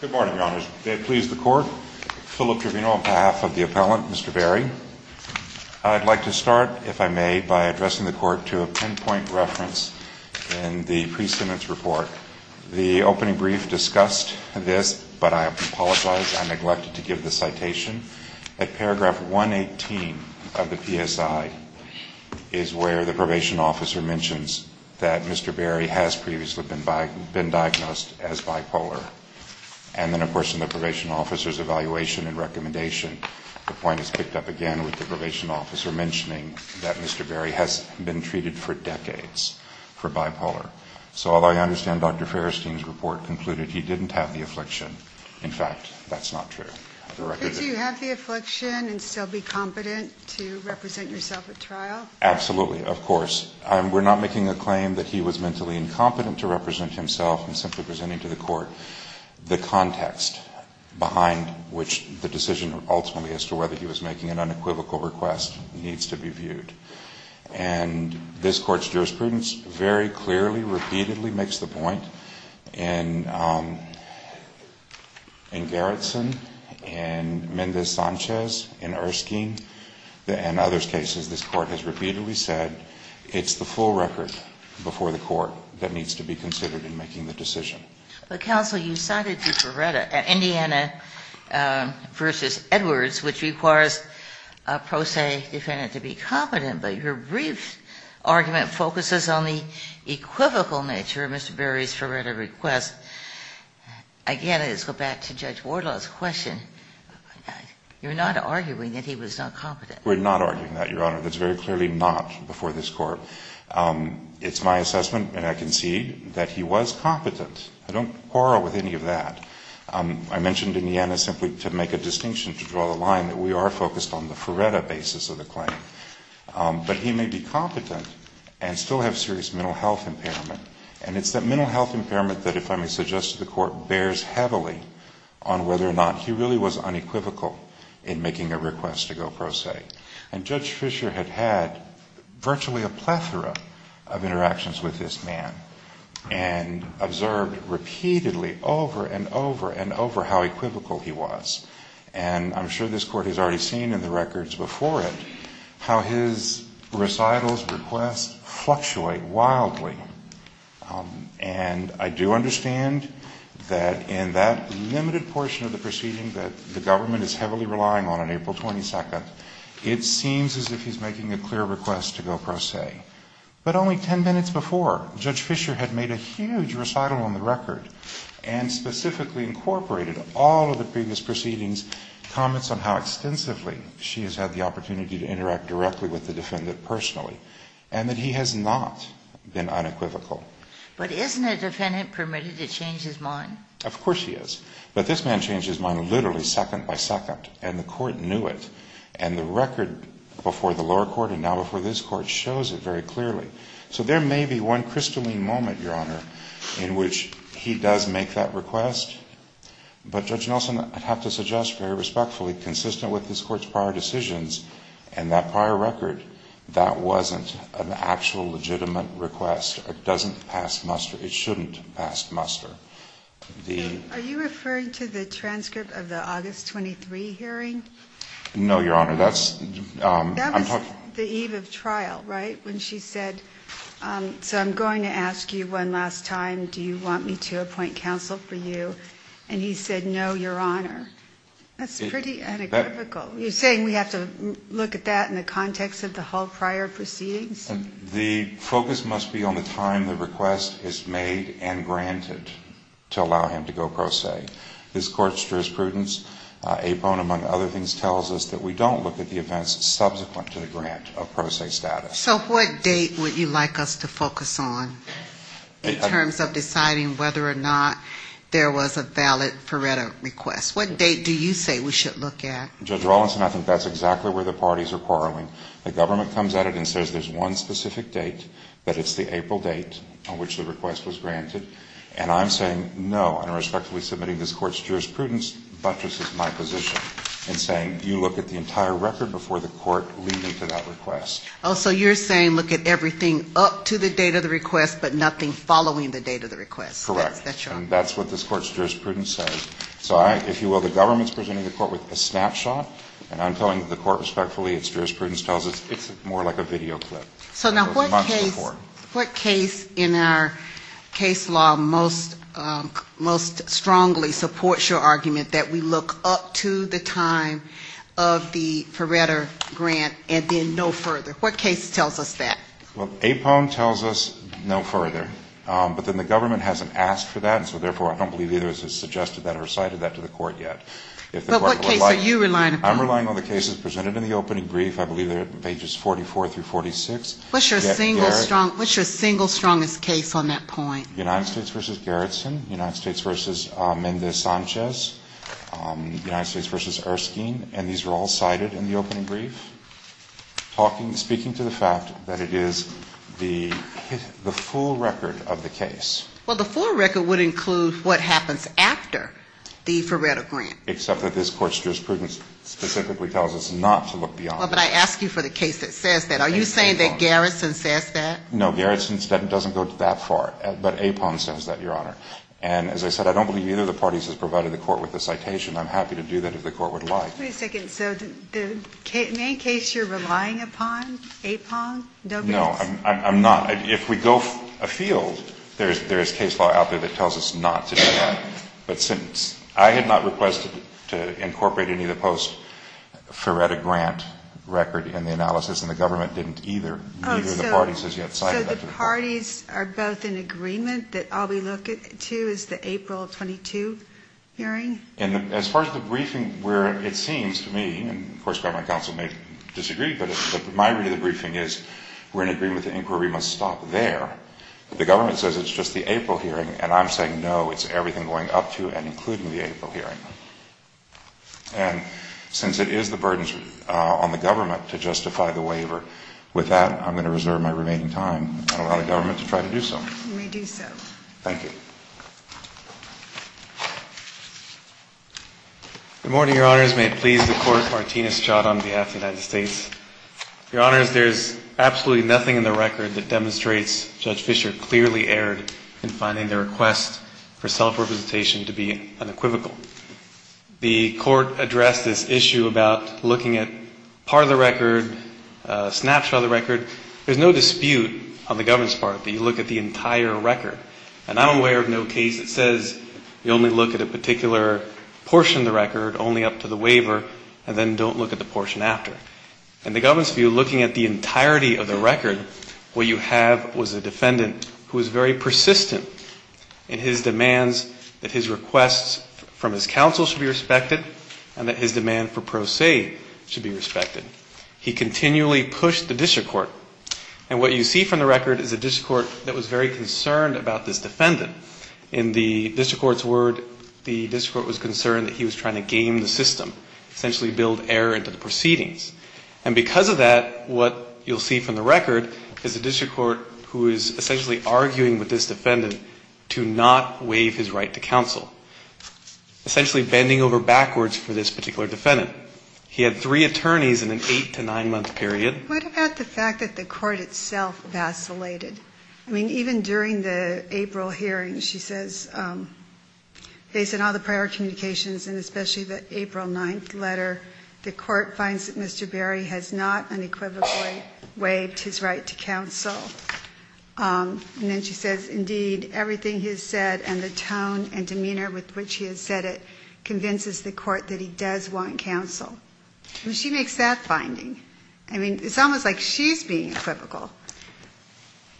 Good morning, Your Honors. May it please the Court, Philip Trevino on behalf of the appellant, Mr. Berry. I'd like to start, if I may, by addressing the Court to a pinpoint reference in the pre-sentence report. The opening brief discussed this, but I apologize, I neglected to give the citation. At paragraph 118 of the PSI is where the probation officer mentions that Mr. Berry has previously been diagnosed as bipolar. And then, of course, in the probation officer's evaluation and recommendation, the point is picked up again with the probation officer mentioning that Mr. Berry has been treated for decades for bipolar. So although I understand Dr. Farristein's report concluded he didn't have the affliction, in fact, that's not true. The record is... Do you have the affliction and still be competent to represent yourself at trial? Absolutely, of course. We're not making a claim that he was mentally incompetent to represent himself. I'm simply presenting to the Court the context behind which the decision ultimately as to whether he was making an unequivocal request needs to be viewed. And this Court's jurisprudence very clearly, repeatedly makes the point. In Gerritsen, in Mendez-Sanchez, in Erskine, in others' cases, this Court has repeatedly said it's the full record before the Court that needs to be considered in making the decision. But, counsel, you cited Ferretta, Indiana v. Edwards, which requires a pro se defendant to be competent, but your brief argument focuses on the equivocal nature of Mr. Berry's argument. We're not arguing that, Your Honor. That's very clearly not before this Court. It's my assessment, and I concede, that he was competent. I don't quarrel with any of that. I mentioned Indiana simply to make a distinction, to draw the line that we are focused on the Ferretta basis of the claim. But he may be competent and still have serious mental health impairment. And it's that mental health impairment that, if I may suggest to the Court, bears heavily on whether or not he really was unequivocal in making a request to go pro se. And Judge Fischer had had virtually a plethora of interactions with this man and observed repeatedly, over and over and over, how equivocal he was. And I'm sure this Court has already seen in the records before it how his recitals, requests, fluctuate wildly. And I do understand that in that limited portion of the proceeding that the government is heavily relying on on April 22nd, it seems as if he's making a clear request to go pro se. But only ten minutes before, Judge Fischer had made a huge recital on the record and specifically incorporated all of the previous proceedings, comments on how extensively she has had the opportunity to interact directly with the defendant personally, and that he has not been unequivocal. But isn't a defendant permitted to change his mind? Of course he is. But this man changed his mind literally second by second. And the Court knew it. And the record before the lower court and now before this Court shows it very clearly. So there may be one crystalline moment, Your Honor, in which he does make that request. But, Judge Nelson, I have to suggest very respectfully, consistent with this Court's prior decisions and that prior record, that wasn't an actual legitimate request. It doesn't pass muster. It shouldn't pass muster. The ---- Are you referring to the transcript of the August 23 hearing? No, Your Honor. That's ---- That was the eve of trial, right, when she said, so I'm going to ask you one last time, do you want me to appoint counsel for you? And he said, no, Your Honor. That's pretty unequivocal. You're saying we have to look at that in the context of the whole prior proceedings? The focus must be on the time the request is made and granted to allow him to go pro se. This Court's jurisprudence, Apone among other things, tells us that we don't look at the events subsequent to the grant of pro se status. So what date would you like us to focus on in terms of deciding whether or not there was a valid pareto request? What date do you say we should look at? Judge Rawlinson, I think that's exactly where the parties are quarreling. The government comes at it and says there's one specific date, that it's the April date on which the request was granted, and I'm saying no, and I'm respectfully submitting this Court's jurisprudence buttresses my position in saying you look at the entire record before the Court leading to that request. Oh, so you're saying look at everything up to the date of the request, but nothing following the date of the request. Correct. That's what this Court's jurisprudence says. So I, if you will, the government's presenting the Court with a snapshot, and I'm saying the Court respectfully, its jurisprudence tells us it's more like a video clip. So now what case in our case law most strongly supports your argument that we look up to the time of the pareto grant and then no further? What case tells us that? Well, APON tells us no further. But then the government hasn't asked for that, and so therefore I don't believe either has suggested that or cited that to the Court yet. But what case are you relying upon? I'm relying on the cases presented in the opening brief. I believe they're pages 44 through 46. What's your single strongest case on that point? United States v. Garrison, United States v. Mendez-Sanchez, United States v. Erskine, and these were all cited in the opening brief, speaking to the fact that it is the full record of the case. Well, the full record would include what happens after the pareto grant. Except that this Court's jurisprudence specifically tells us not to look beyond that. Well, but I ask you for the case that says that. Are you saying that Garrison says that? No, Garrison doesn't go that far. But APON says that, Your Honor. And as I said, I don't believe either of the parties has provided the Court with a citation. I'm happy to do that if the Court would like. Wait a second. So the main case you're relying upon, APON? No, I'm not. If we go afield, there is case law out there that tells us not to do that. But since I had not requested to incorporate any of the post pareto grant record in the analysis, and the government didn't either, neither of the parties has yet cited that. So the parties are both in agreement that all we look to is the April 22 hearing? As far as the briefing, where it seems to me, and of course government counsel may disagree, but my view of the briefing is we're in agreement that the inquiry must stop there. The government says it's just the April hearing, and I'm saying no, it's including the April hearing. And since it is the burden on the government to justify the waiver, with that, I'm going to reserve my remaining time and allow the government to try to do so. You may do so. Thank you. Good morning, Your Honors. May it please the Court, Martinez, Chott on behalf of the United States. Your Honors, there is absolutely nothing in the record that demonstrates Judge Representation to be unequivocal. The Court addressed this issue about looking at part of the record, a snapshot of the record. There's no dispute on the government's part that you look at the entire record. And I'm aware of no case that says you only look at a particular portion of the record, only up to the waiver, and then don't look at the portion after. In the government's view, looking at the entirety of the record, what you have was a defendant who was very persistent in his demands that his requests from his counsel should be respected and that his demand for pro se should be respected. He continually pushed the district court. And what you see from the record is a district court that was very concerned about this defendant. In the district court's word, the district court was concerned that he was trying to game the system, essentially build air into the proceedings. And because of that, what you'll see from the record is a district court who is essentially arguing with this defendant to not waive his right to counsel, essentially bending over backwards for this particular defendant. He had three attorneys in an eight- to nine-month period. What about the fact that the court itself vacillated? I mean, even during the April hearing, she says, based on all the prior communications and especially the April 9th letter, the court finds that Mr. Berry has not unequivocally waived his right to counsel. And then she says, indeed, everything he has said and the tone and demeanor with which he has said it convinces the court that he does want counsel. I mean, she makes that finding. I mean, it's almost like she's being equivocal.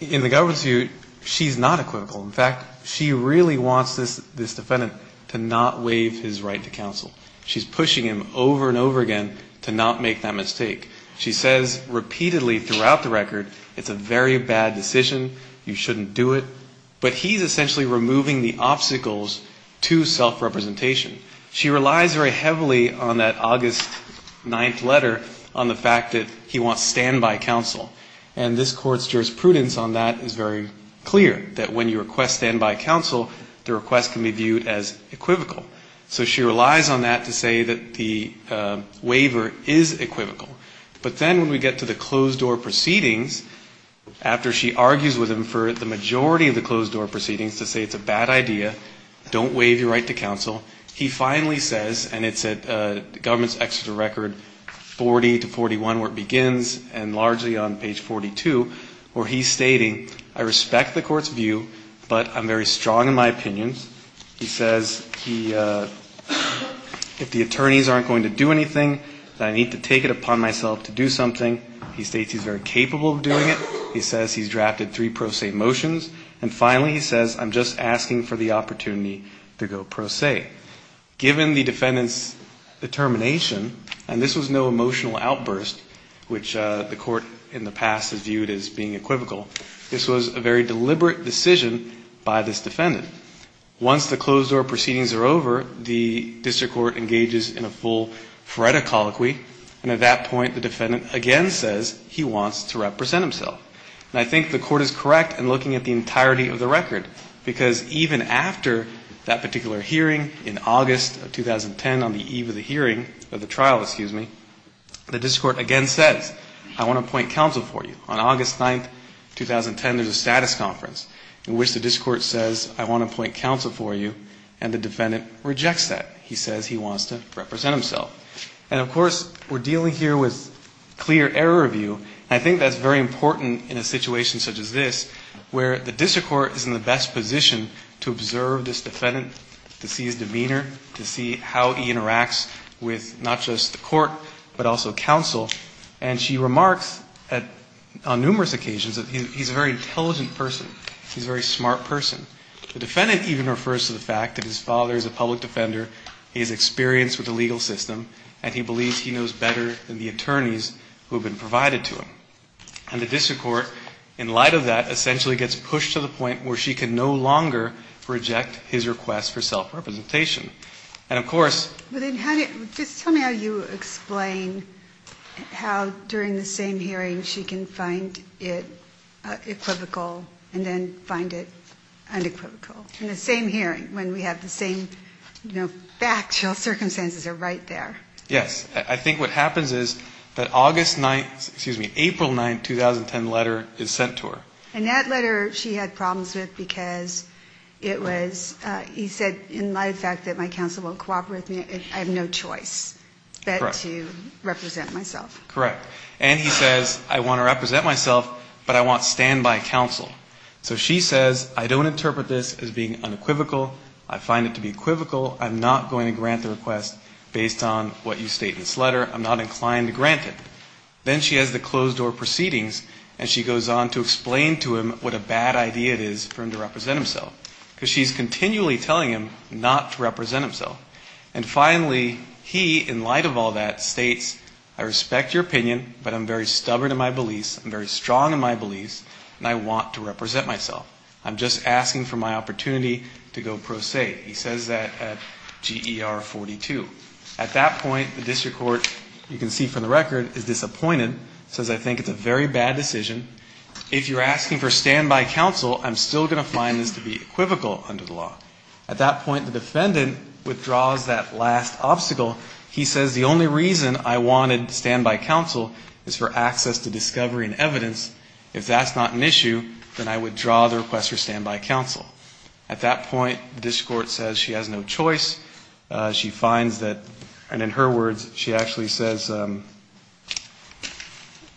In the government's view, she's not equivocal. In fact, she really wants this defendant to not waive his right to counsel. She's pushing him over and over again to not make that mistake. She says repeatedly throughout the record, it's a very bad decision, you shouldn't do it. But he's essentially removing the obstacles to self-representation. She relies very heavily on that August 9th letter on the fact that he wants standby counsel. And this court's jurisprudence on that is very clear, that when you request standby counsel, the request can be viewed as equivocal. So she relies on that to say that the waiver is equivocal. But then when we get to the closed-door proceedings, after she argues with him for the majority of the closed-door proceedings to say it's a bad idea, don't waive your right to counsel, he finally says, and it's at government's extra record 40 to 41 where it begins and largely on page 42, where he's stating, I respect the court's view, but I'm very strong in my opinions. He says he, if the attorneys aren't going to do anything, I need to take it upon myself to do something. He states he's very capable of doing it. He says he's drafted three pro se motions. And finally he says, I'm just asking for the opportunity to go pro se. Given the defendant's determination, and this was no emotional outburst, which the court in the past has viewed as being equivocal, this was a very deliberate decision by this defendant. Once the closed-door proceedings are over, the district court engages in a full phoretic colloquy. And at that point, the defendant again says he wants to represent himself. And I think the court is correct in looking at the entirety of the record, because even after that particular hearing in August of 2010 on the eve of the hearing of the trial, excuse me, the district court again says, I want to appoint counsel for you. On August 9th, 2010, there's a status conference in which the district court says, I want to appoint counsel for you. And the defendant rejects that. He says he wants to represent himself. And, of course, we're dealing here with clear error review. And I think that's very important in a situation such as this, where the district court is in the best position to observe this defendant, to see his demeanor, to see how he interacts with not just the court, but also counsel. And she remarks on numerous occasions that he's a very intelligent person. He's a very smart person. The defendant even refers to the fact that his father is a public defender, he is experienced with the legal system, and he believes he knows better than the attorneys who have been provided to him. And the district court, in light of that, essentially gets pushed to the point where she can no longer reject his request for self-representation. And, of course ‑‑ But then how do ‑‑ just tell me how you explain how, during the same hearing, she can find it equivocal and then find it unequivocal. In the same hearing, when we have the same, you know, factual circumstances are right there. Yes. I think what happens is that August 9th ‑‑ excuse me, April 9th, 2010 letter is sent to her. And that letter she had problems with because it was ‑‑ he said, in light of the fact that my counsel won't cooperate with me, I have no choice but to represent myself. Correct. And he says, I want to represent myself, but I want standby counsel. So she says, I don't interpret this as being unequivocal. I find it to be equivocal. I'm not going to grant the request based on what you state in this letter. I'm not inclined to grant it. Then she has the closed door proceedings and she goes on to explain to him what a bad idea it is for him to represent himself. Because she's continually telling him not to represent himself. And finally, he, in light of all that, states, I respect your opinion, but I'm very stubborn in my beliefs, I'm very strong in my beliefs, and I want to represent myself. I'm just asking for my opportunity to go pro se. He says that at GER 42. At that point, the district court, you can see from the record, is disappointed. Says, I think it's a very bad decision. If you're asking for standby counsel, I'm still going to find this to be equivocal under the law. At that point, the defendant withdraws that last obstacle. He says, the only reason I wanted standby counsel is for access to discovery and evidence. If that's not an issue, then I withdraw the request for standby counsel. At that point, the district court says she has no choice. She finds that, and in her words, she actually says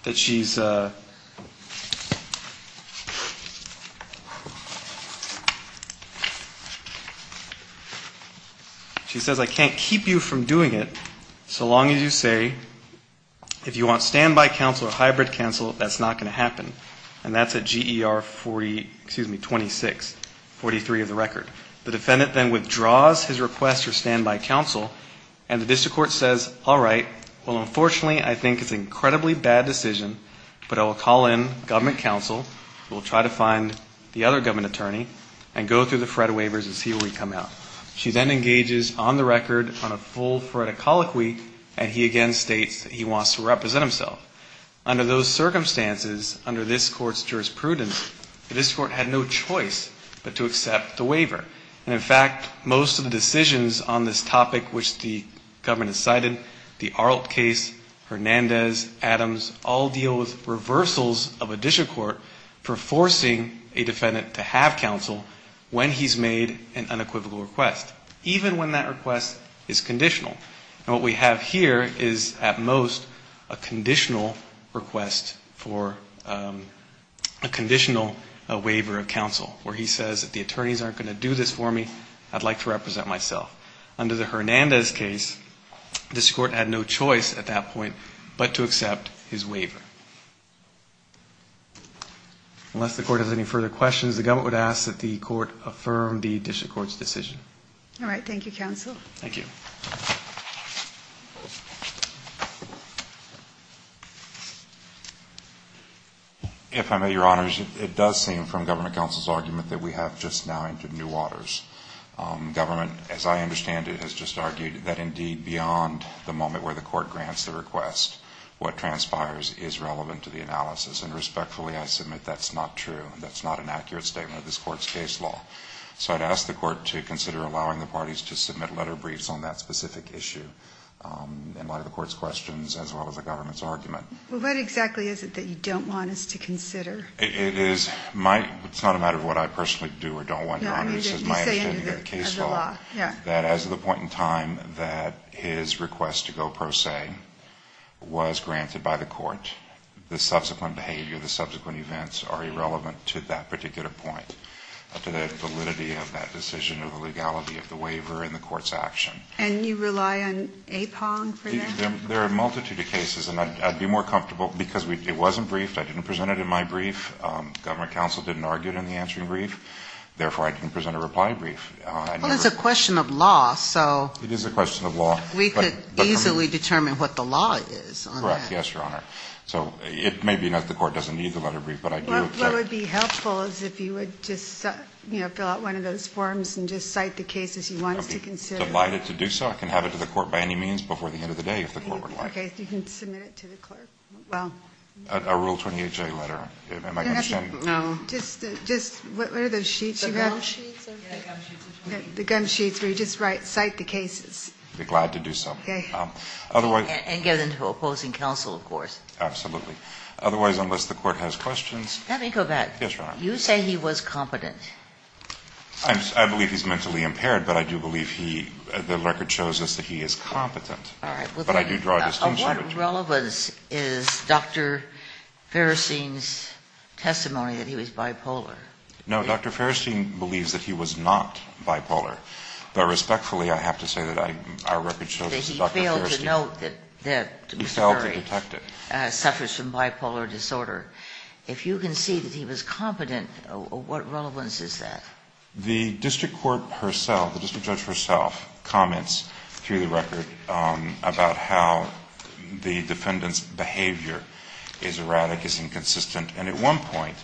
that she's... She says, I can't keep you from doing it so long as you say, if you want standby counsel or hybrid counsel, that's not going to happen. And that's at GER 40, excuse me, 26. 43 of the record. The defendant then withdraws his request for standby counsel. And the district court says, all right, well, unfortunately, I think it's an incredibly bad decision, but I will call in government counsel who will try to find the other government attorney and go through the FRED waivers and see where we come out. She then engages on the record on a full FRED-a-colic week, and he again states that he wants to represent himself. Under those circumstances, under this court's jurisprudence, the district court had no choice but to accept the waiver. And, in fact, most of the decisions on this topic which the government has cited, the Arlt case, Hernandez, Adams, all deal with reversals of a district court for forcing a defendant to have counsel when he's made an unequivocal request, even when that request is conditional. And what we have here is, at most, a conditional request for a conditional waiver of counsel, where he says that the attorneys aren't going to do this for me, I'd like to represent myself. Under the Hernandez case, this court had no choice at that point but to accept his waiver. Unless the court has any further questions, the government would ask that the court affirm the district court's decision. All right. Thank you, counsel. Thank you. If I may, Your Honors, it does seem from government counsel's argument that we have just now entered new waters. Government, as I understand it, has just argued that, indeed, beyond the moment where the court grants the request, what transpires is relevant to the analysis, and respectfully, I submit that's not true. That's not an accurate statement of this court's case law. So I'd ask the court to consider allowing the parties to submit letter briefs on that specific issue in light of the court's questions as well as the government's argument. Well, what exactly is it that you don't want us to consider? It is my – it's not a matter of what I personally do or don't want, Your Honors. No, I mean that you say under the law. It's my understanding of the case law that as of the point in time that his request to go pro se was granted by the court, the subsequent behavior, the subsequent events are irrelevant to that particular point, to the validity of that decision, of the legality of the waiver and the court's action. And you rely on APONG for that? There are a multitude of cases, and I'd be more comfortable because it wasn't briefed. I didn't present it in my brief. Government counsel didn't argue it in the answering brief. Therefore, I didn't present a reply brief. Well, it's a question of law, so we could easily determine what the law is on that. Correct. Yes, Your Honor. So it may be that the court doesn't need the letter brief, but I do object. What would be helpful is if you would just, you know, fill out one of those forms and just cite the cases you want us to consider. I'd be delighted to do so. I can have it to the court by any means before the end of the day if the court would like. Okay, so you can submit it to the clerk. A Rule 28J letter. Am I going to send it? No. Just – what are those sheets you have? The gum sheets. The gum sheets where you just write, cite the cases. I'd be glad to do so. Okay. And get into opposing counsel, of course. Absolutely. Otherwise, unless the court has questions. Let me go back. Yes, Your Honor. You say he was competent. I believe he's mentally impaired, but I do believe he – the record shows us that he is competent. All right. But I do draw a distinction. What relevance is Dr. Ferristein's testimony that he was bipolar? No, Dr. Ferristein believes that he was not bipolar. But respectfully, I have to say that our record shows that Dr. Ferristein – That he failed to note that Mr. Ferri – He failed to detect it. Suffers from bipolar disorder. If you can see that he was competent, what relevance is that? The district court herself, the district judge herself, comments through the record about how the defendant's behavior is erratic, is inconsistent, and at one point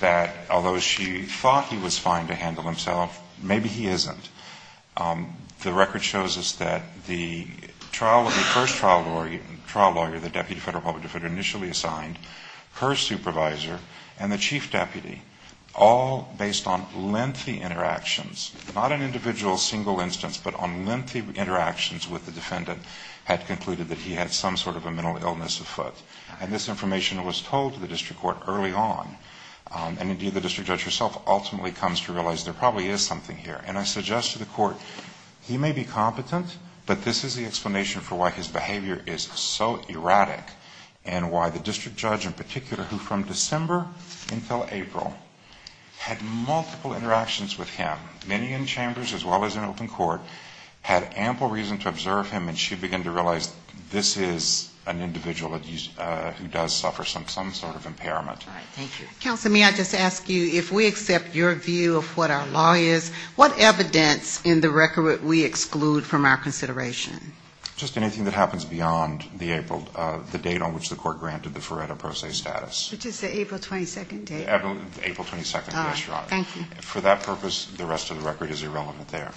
that although she thought he was fine to handle himself, maybe he isn't. The record shows us that the first trial lawyer, the deputy federal public defender initially assigned, her supervisor, and the chief deputy, all based on lengthy interactions, not an individual single instance, but on lengthy interactions with the defendant, had concluded that he had some sort of a mental illness afoot. And this information was told to the district court early on. And indeed, the district judge herself ultimately comes to realize there probably is something here. And I suggest to the court, he may be competent, but this is the explanation for why his behavior is so erratic, and why the district judge in particular, who from December until April, had multiple interactions with him, many in chambers as well as in open court, had ample reason to observe him, and she began to realize this is an individual who does suffer some sort of impairment. All right. Thank you. Counselor, may I just ask you, if we accept your view of what our law is, what evidence in the record would we exclude from our consideration? Just anything that happens beyond the April, the date on which the court granted the Feretta Pro Se status. Which is the April 22nd date. April 22nd, yes, Your Honor. Thank you. For that purpose, the rest of the record is irrelevant there.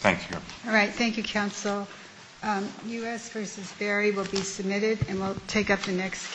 Thank you. All right. Thank you, Counsel. U.S. v. Berry will be submitted, and we'll take up the next case.